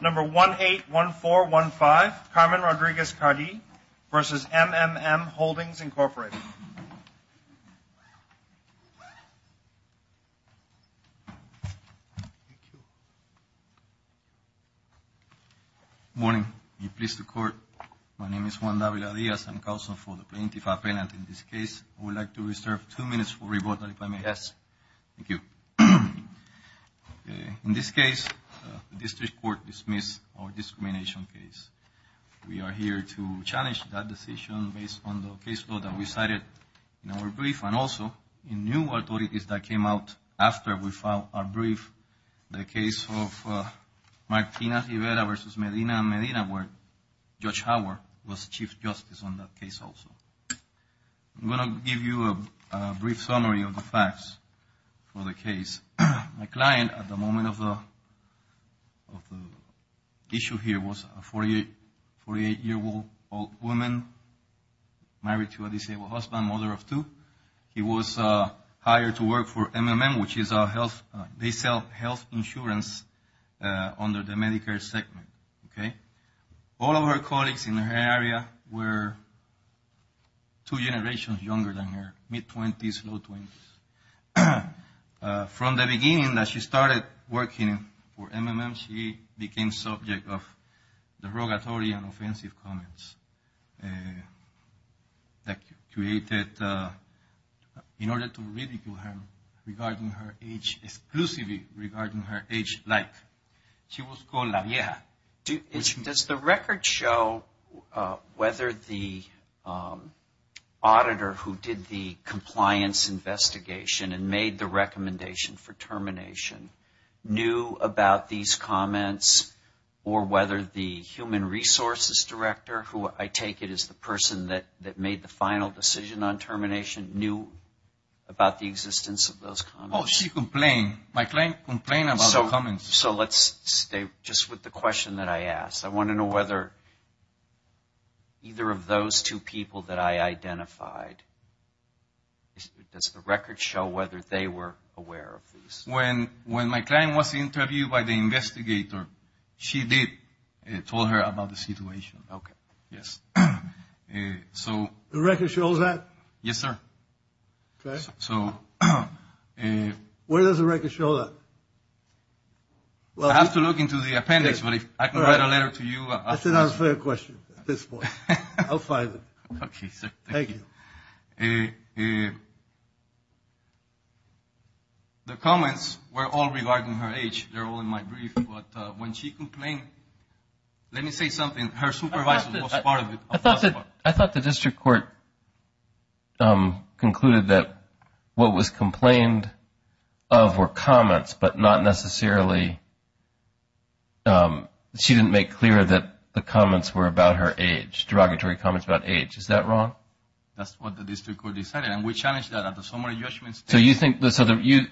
Number 181415, Carmen Rodriguez-Cardi v. MMM Holdings, Inc. Good morning. Be pleased to court. My name is Juan David Adias. I'm counsel for the plaintiff's appeal. And in this case, I would like to reserve two minutes for rebuttal, if I may. Yes. Thank you. In this case, the district court dismissed our discrimination case. We are here to challenge that decision based on the case law that we cited in our brief. And also, in new authorities that came out after we filed our brief, the case of Martina Rivera v. Medina and Medina, where Judge Howard was Chief Justice on that case also. I'm going to give you a brief summary of the facts for the case. My client at the moment of the issue here was a 48-year-old woman married to a disabled husband, mother of two. He was hired to work for MMM, which is a health, they sell health insurance under the Medicare segment, okay? All of her colleagues in her area were two generations younger than her, mid-20s, low-20s. From the beginning that she started working for MMM, she became subject of derogatory and offensive comments that created in order to ridicule him regarding her age, exclusively regarding her age, like she was called la vieja. Does the record show whether the auditor who did the compliance investigation and made the recommendation for termination knew about these comments, or whether the human resources director, who I take it is the person that made the final decision on termination, knew about the existence of those comments? Oh, she complained. My client complained about the comments. So let's stay just with the question that I asked. I want to know whether either of those two people that I identified, does the record show whether they were aware of this? When my client was interviewed by the investigator, she did tell her about the situation. The record shows that? Yes, sir. Okay. Where does the record show that? I have to look into the appendix, but if I can write a letter to you. That's an unfair question at this point. I'll find it. Okay, sir. Thank you. The comments were all regarding her age. They're all in my brief. But when she complained, let me say something. Her supervisor was part of it. I thought the district court concluded that what was complained of were comments, but not necessarily she didn't make clear that the comments were about her age, derogatory comments about age. Is that wrong? That's what the district court decided, and we challenged that at the summary judgment. So in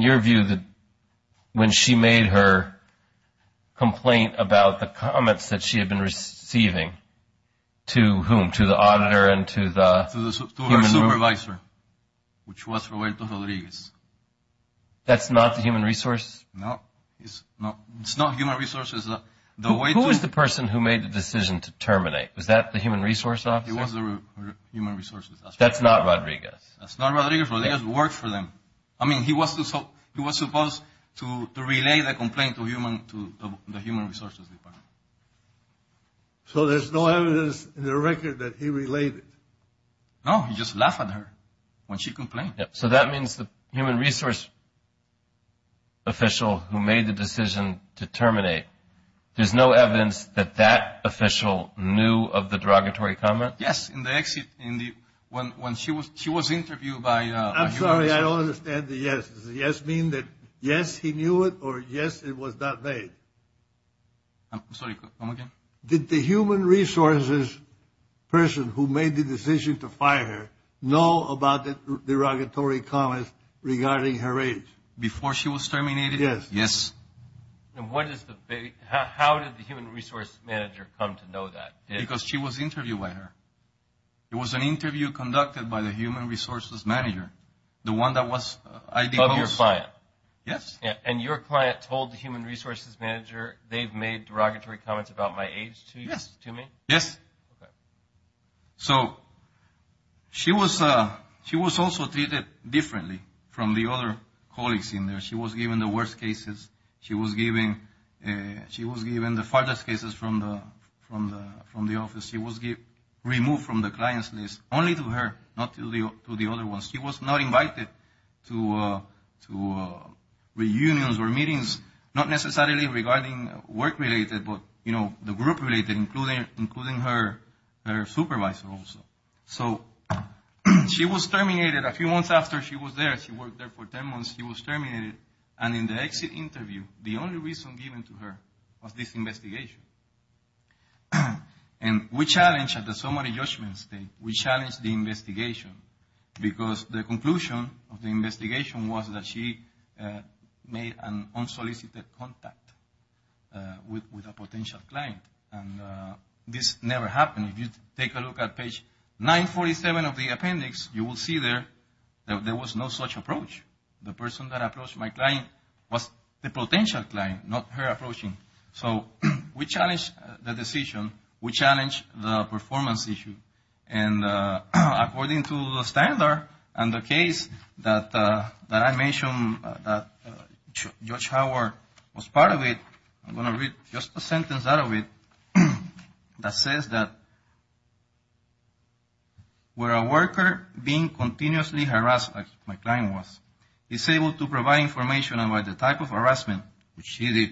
your view, when she made her complaint about the comments that she had been receiving, to whom? To the auditor and to the? To her supervisor, which was Roberto Rodriguez. That's not the human resources? No, it's not human resources. Who was the person who made the decision to terminate? Was that the human resource officer? It was the human resources. That's not Rodriguez? That's not Rodriguez. Rodriguez worked for them. I mean, he was supposed to relay the complaint to the human resources department. So there's no evidence in the record that he relayed it? No, he just laughed at her when she complained. So that means the human resource official who made the decision to terminate, there's no evidence that that official knew of the derogatory comment? Yes, in the exit, when she was interviewed by human resources. I'm sorry, I don't understand the yes. Does the yes mean that yes, he knew it, or yes, it was not made? I'm sorry, go again. Did the human resources person who made the decision to fire her know about the derogatory comments regarding her age? Before she was terminated? Yes. Yes. How did the human resource manager come to know that? Because she was interviewed by her. It was an interview conducted by the human resources manager, the one that was IDO's. Of your client? Yes. And your client told the human resources manager they've made derogatory comments about my age to me? Yes. Okay. So she was also treated differently from the other colleagues in there. She was given the worst cases. She was given the farthest cases from the office. She was removed from the client's list, only to her, not to the other ones. She was not invited to reunions or meetings, not necessarily regarding work-related, but, you know, the group-related, including her supervisor also. So she was terminated a few months after she was there. She worked there for 10 months. She was terminated. And in the exit interview, the only reason given to her was this investigation. And we challenged at the summary judgment stage, we challenged the investigation, because the conclusion of the investigation was that she made an unsolicited contact with a potential client. And this never happened. If you take a look at page 947 of the appendix, you will see there there was no such approach. The person that approached my client was the potential client, not her approaching. So we challenged the decision. We challenged the performance issue. And according to the standard and the case that I mentioned that Judge Howard was part of it, I'm going to read just a sentence out of it that says that, where a worker being continuously harassed, as my client was, is able to provide information about the type of harassment which she did,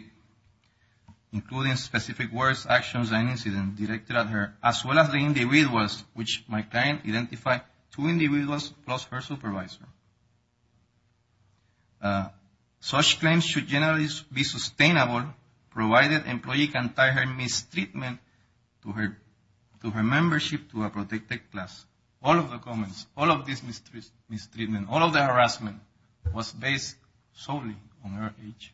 including specific words, actions, and incidents directed at her, as well as the individuals, which my client identified two individuals plus her supervisor. Such claims should generally be sustainable, provided employee can tie her mistreatment to her membership to a protected class. All of the comments, all of this mistreatment, all of the harassment was based solely on her age.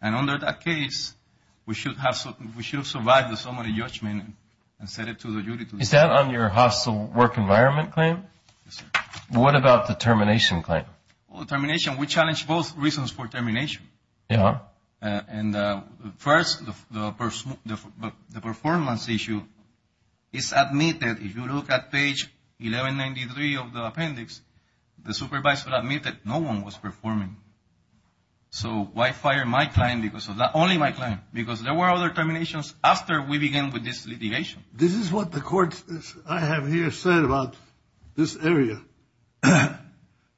And under that case, we should have survived the summary judgment and set it to the jury. Is that on your hostile work environment claim? Yes, sir. What about the termination claim? Well, termination, we challenged both reasons for termination. Yeah. And first, the performance issue is admitted. If you look at page 1193 of the appendix, the supervisor admitted no one was performing. So why fire my client because of that, only my client? Because there were other terminations after we began with this litigation. This is what the courts I have here said about this area.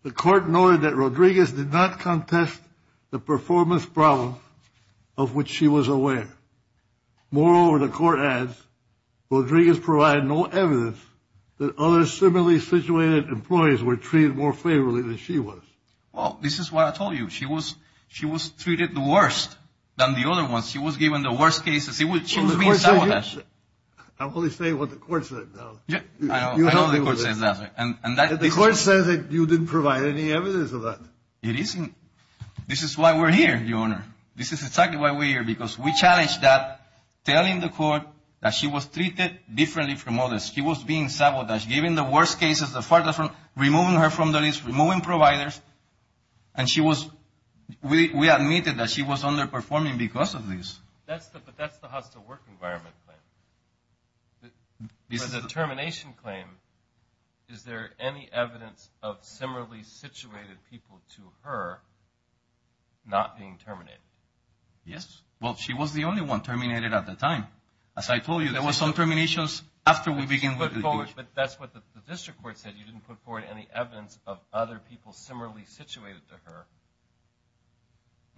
The court noted that Rodriguez did not contest the performance problem of which she was aware. Moreover, the court adds, Rodriguez provided no evidence that other similarly situated employees were treated more favorably than she was. Well, this is what I told you. She was treated the worst than the other ones. She was given the worst cases. She was being sabotaged. I'm only saying what the court said. I know the court said that. The court said that you didn't provide any evidence of that. It isn't. This is why we're here, Your Honor. This is exactly why we're here, because we challenged that, telling the court that she was treated differently from others. She was being sabotaged, giving the worst cases, removing her from the list, removing providers. And we admitted that she was underperforming because of this. But that's the hostile work environment claim. For the termination claim, is there any evidence of similarly situated people to her not being terminated? Yes. Well, she was the only one terminated at the time. As I told you, there were some terminations after we began with litigation. But that's what the district court said. You didn't put forward any evidence of other people similarly situated to her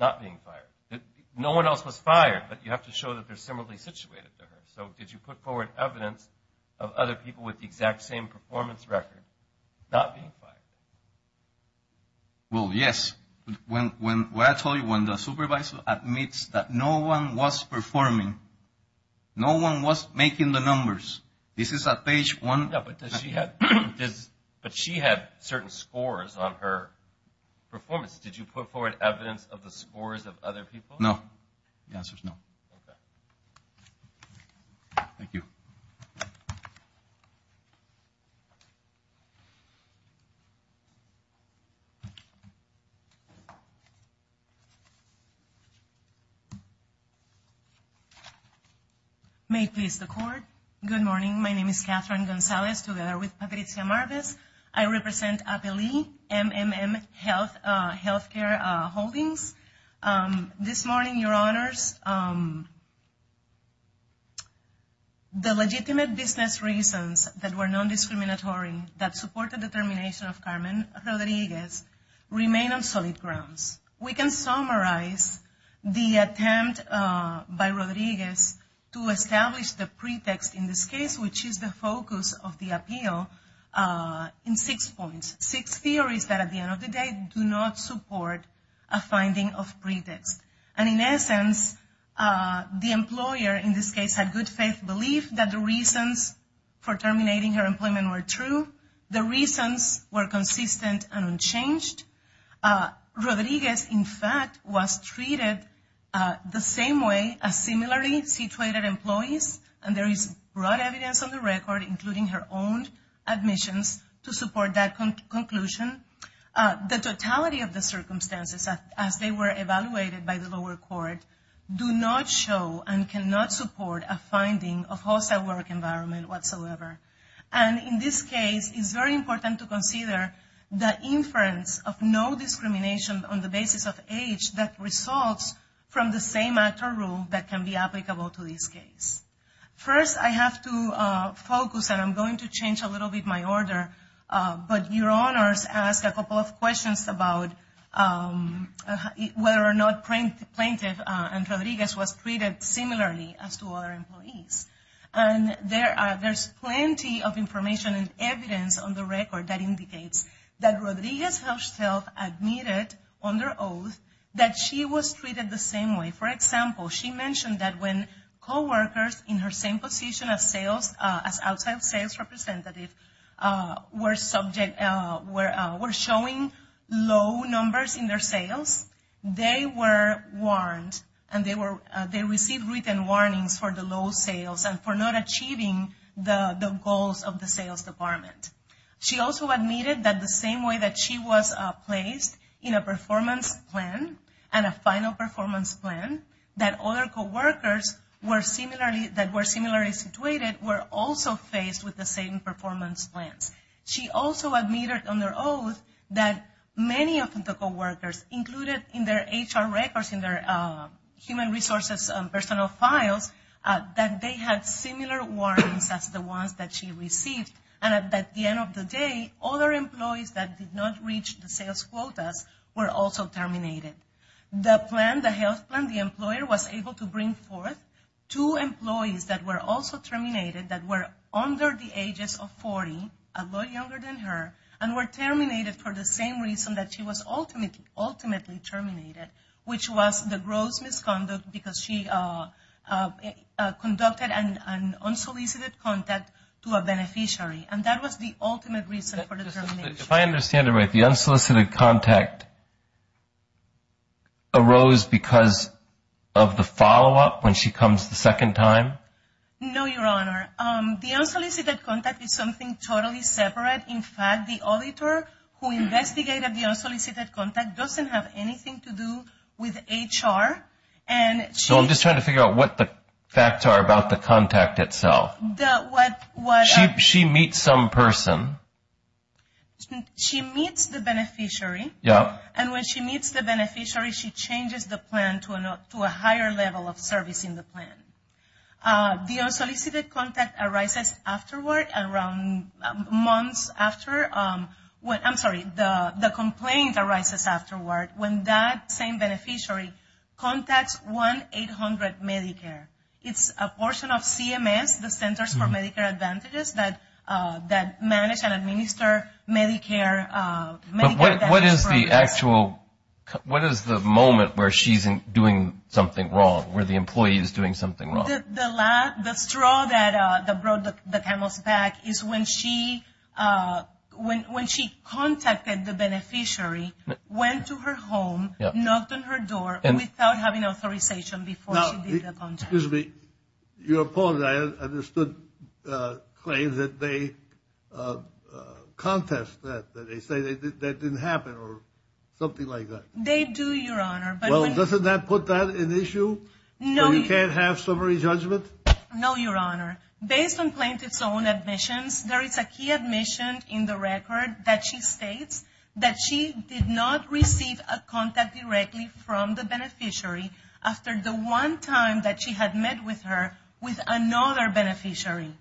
not being fired. No one else was fired, but you have to show that they're similarly situated to her. So did you put forward evidence of other people with the exact same performance record not being fired? Well, yes. What I told you, when the supervisor admits that no one was performing, no one was making the numbers, this is at page one. But she had certain scores on her performance. Did you put forward evidence of the scores of other people? No. The answer is no. Okay. Thank you. May it please the Court. Good morning. My name is Catherine Gonzalez, together with Patricia Marvez. I represent Apelli MMM Healthcare Holdings. This morning, Your Honors, the legitimate business reasons that were non-discriminatory, that supported the termination of Carmen Rodriguez, remain on solid grounds. We can summarize the attempt by Rodriguez to establish the pretext in this case, which is the focus of the appeal, in six points. Six theories that, at the end of the day, do not support a finding of pretext. And in essence, the employer, in this case, had good faith belief that the reasons for terminating her employment were true, the reasons were consistent and unchanged. Rodriguez, in fact, was treated the same way as similarly situated employees, and there is broad evidence on the record, including her own admissions, to support that conclusion. The totality of the circumstances, as they were evaluated by the lower court, do not show and cannot support a finding of hostile work environment whatsoever. And in this case, it's very important to consider the inference of no discrimination on the basis of age that results from the same actor rule that can be applicable to this case. First, I have to focus, and I'm going to change a little bit my order, but Your Honors asked a couple of questions about whether or not Plaintiff and Rodriguez was treated similarly as to other employees. And there's plenty of information and evidence on the record that indicates that Rodriguez herself admitted under oath that she was treated the same way. For example, she mentioned that when coworkers in her same position as sales, as outside sales representative, were showing low numbers in their sales, they were warned and they received written warnings for the low sales and for not achieving the goals of the sales department. She also admitted that the same way that she was placed in a performance plan and a final performance plan, that other coworkers that were similarly situated were also faced with the same performance plans. She also admitted under oath that many of the coworkers included in their HR records, in their human resources personal files, that they had similar warnings as the ones that she received. And at the end of the day, other employees that did not reach the sales quotas were also terminated. The plan, the health plan, the employer was able to bring forth two employees that were also terminated that were under the ages of 40, a lot younger than her, and were terminated for the same reason that she was ultimately terminated, which was the gross misconduct because she conducted an unsolicited contact to a beneficiary. And that was the ultimate reason for the termination. If I understand it right, the unsolicited contact arose because of the follow-up when she comes the second time? No, Your Honor. The unsolicited contact is something totally separate. In fact, the auditor who investigated the unsolicited contact doesn't have anything to do with HR. So I'm just trying to figure out what the facts are about the contact itself. She meets some person. She meets the beneficiary. And when she meets the beneficiary, she changes the plan to a higher level of service in the plan. The unsolicited contact arises afterward, around months after. I'm sorry, the complaint arises afterward when that same beneficiary contacts 1-800-Medicare. It's a portion of CMS, the Centers for Medicare Advantages, that manage and administer Medicare. But what is the actual, what is the moment where she's doing something wrong, where the employee is doing something wrong? The straw that brought the camels back is when she contacted the beneficiary, went to her home, knocked on her door without having authorization before she did the contact. Excuse me. Your opponent, I understood, claims that they contest that. That they say that didn't happen or something like that. They do, Your Honor. Well, doesn't that put that in issue? No. So you can't have summary judgment? No, Your Honor. Based on plaintiff's own admissions, there is a key admission in the record that she states that she did not receive a contact directly from the beneficiary after the one time that she had met with her with another beneficiary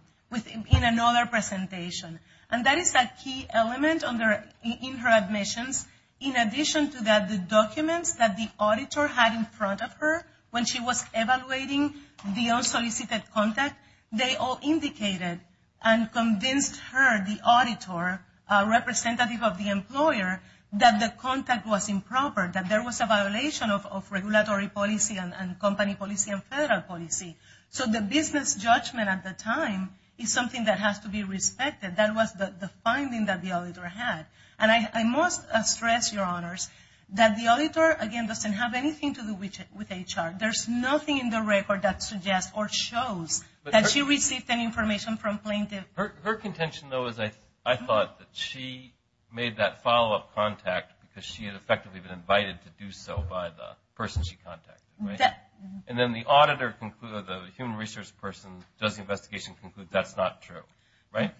in another presentation. And that is a key element in her admissions. In addition to that, the documents that the auditor had in front of her when she was evaluating the unsolicited contact, they all indicated and convinced her, the auditor representative of the employer, that the contact was improper, that there was a violation of regulatory policy and company policy and federal policy. So the business judgment at the time is something that has to be respected. That was the finding that the auditor had. And I must stress, Your Honors, that the auditor, again, doesn't have anything to do with HR. There's nothing in the record that suggests or shows that she received any information from plaintiff. Her contention, though, is I thought that she made that follow-up contact because she had effectively been invited to do so by the person she contacted, right? And then the auditor, the human research person, does the investigation conclude that's not true, right?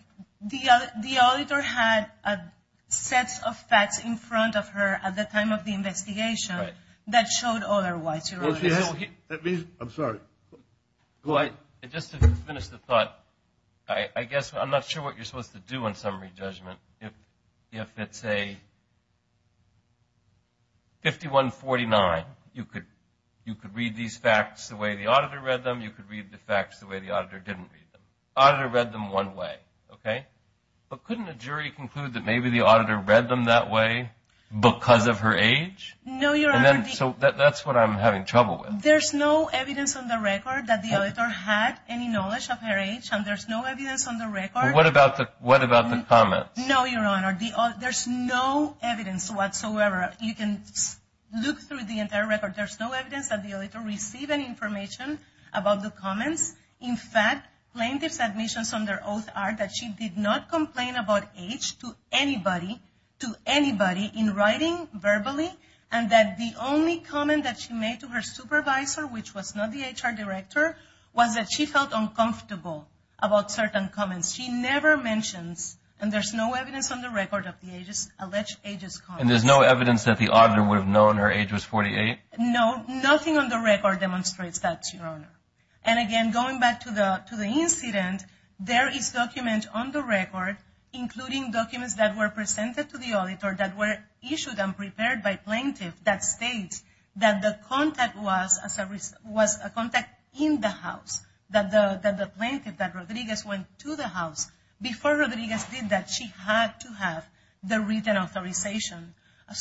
The auditor had a set of facts in front of her at the time of the investigation that showed otherwise. I'm sorry. Just to finish the thought, I guess I'm not sure what you're supposed to do in summary judgment if it's a 5149. You could read these facts the way the auditor read them. You could read the facts the way the auditor didn't read them. Auditor read them one way, okay? But couldn't a jury conclude that maybe the auditor read them that way because of her age? No, Your Honor. So that's what I'm having trouble with. There's no evidence on the record that the auditor had any knowledge of her age, and there's no evidence on the record. What about the comments? No, Your Honor. There's no evidence whatsoever. You can look through the entire record. There's no evidence that the auditor received any information about the comments. In fact, plaintiff's admissions under oath are that she did not complain about age to anybody in writing verbally, and that the only comment that she made to her supervisor, which was not the HR director, was that she felt uncomfortable about certain comments. She never mentions, and there's no evidence on the record of the alleged age's comments. And there's no evidence that the auditor would have known her age was 48? No, nothing on the record demonstrates that, Your Honor. And again, going back to the incident, there is document on the record, including documents that were presented to the auditor that were issued and prepared by plaintiff that states that the contact was a contact in the house, that the plaintiff, that Rodriguez, went to the house before Rodriguez did that. She had to have the written authorization.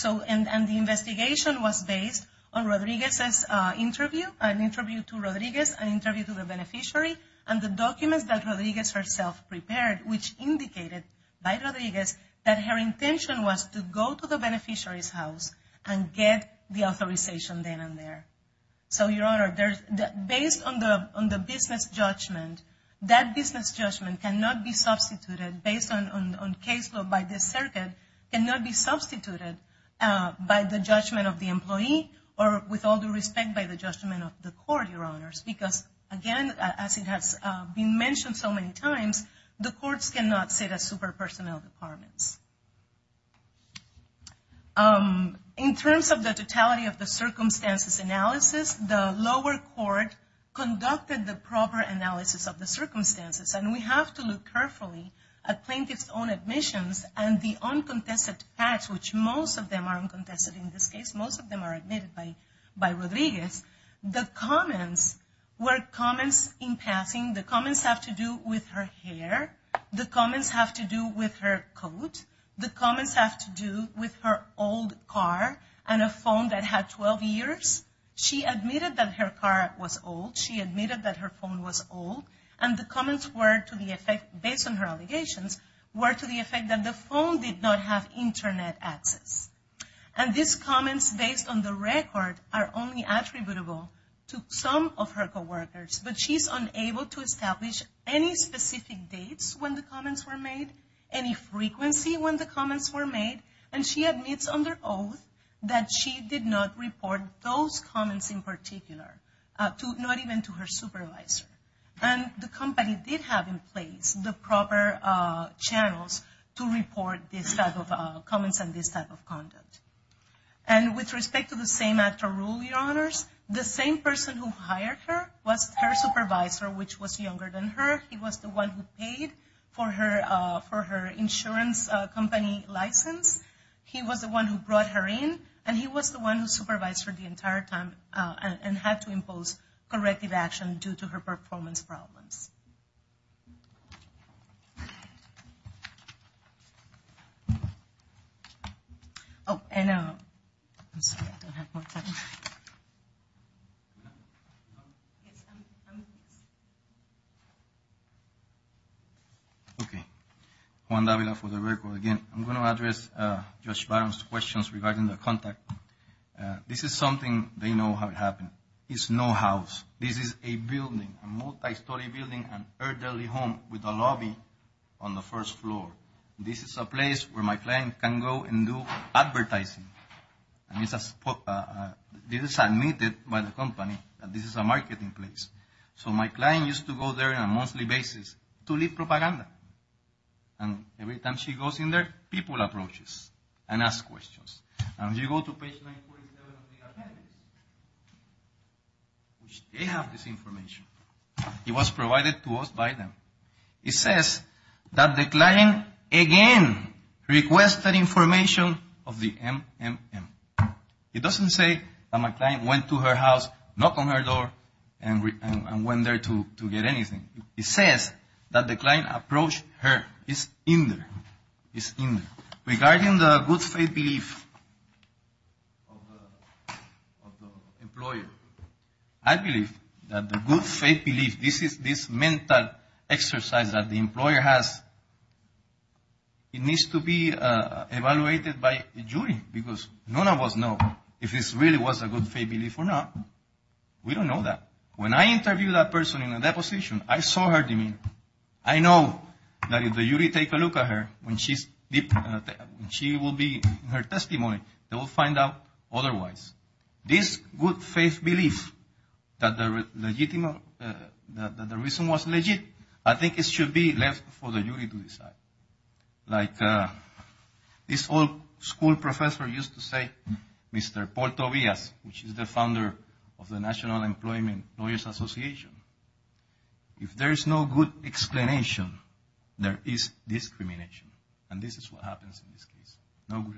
And the investigation was based on Rodriguez's interview, an interview to Rodriguez, an interview to the beneficiary, and the documents that Rodriguez herself prepared, which indicated by Rodriguez that her intention was to go to the beneficiary's house and get the authorization then and there. So, Your Honor, based on the business judgment, that business judgment cannot be substituted, based on case law by this circuit, cannot be substituted by the judgment of the employee or with all due respect by the judgment of the court, Your Honors, because again, as it has been mentioned so many times, the courts cannot sit as super-personnel departments. In terms of the totality of the circumstances analysis, the lower court conducted the proper analysis of the circumstances. And we have to look carefully at plaintiff's own admissions and the uncontested facts, which most of them are uncontested in this case. Most of them are admitted by Rodriguez. The comments were comments in passing. The comments have to do with her hair. The comments have to do with her coat. The comments have to do with her old car and a phone that had 12 years. She admitted that her car was old. She admitted that her phone was old. And the comments were to the effect, based on her allegations, were to the effect that the phone did not have Internet access. And these comments, based on the record, are only attributable to some of her co-workers. But she's unable to establish any specific dates when the comments were made, any frequency when the comments were made. And she admits under oath that she did not report those comments in particular, not even to her supervisor. And the company did have in place the proper channels to report this type of comments and this type of content. The same person who hired her was her supervisor, which was younger than her. He was the one who paid for her insurance company license. He was the one who brought her in. And he was the one who supervised her the entire time and had to impose corrective action due to her performance problems. Yes. Oh, and I'm sorry, I don't have more time. Okay. Juan Davila for the record again. I'm going to address Judge Barron's questions regarding the contact. This is something they know how it happened. It's no house. This is a building, a multi-story building, an elderly home with a lobby on the first floor. This is a place where my client can go and do advertising. This is admitted by the company that this is a marketing place. So my client used to go there on a monthly basis to lead propaganda. And every time she goes in there, people approach us and ask questions. And if you go to page 947 of the appendix, they have this information. It was provided to us by them. It says that the client again requested information of the MMM. It doesn't say that my client went to her house, knocked on her door, and went there to get anything. It says that the client approached her. It's in there. It's in there. Regarding the good faith belief of the employer, I believe that the good faith belief, this mental exercise that the employer has, it needs to be evaluated by a jury because none of us know if this really was a good faith belief or not. We don't know that. When I interviewed that person in a deposition, I saw her demeanor. I know that if the jury take a look at her, when she will be in her testimony, they will find out otherwise. This good faith belief that the reason was legit, I think it should be left for the jury to decide. Like this old school professor used to say, Mr. Paul Tobias, which is the founder of the National Employment Lawyers Association, if there is no good explanation, there is discrimination. And this is what happens in this case. No good explanation. Thank you.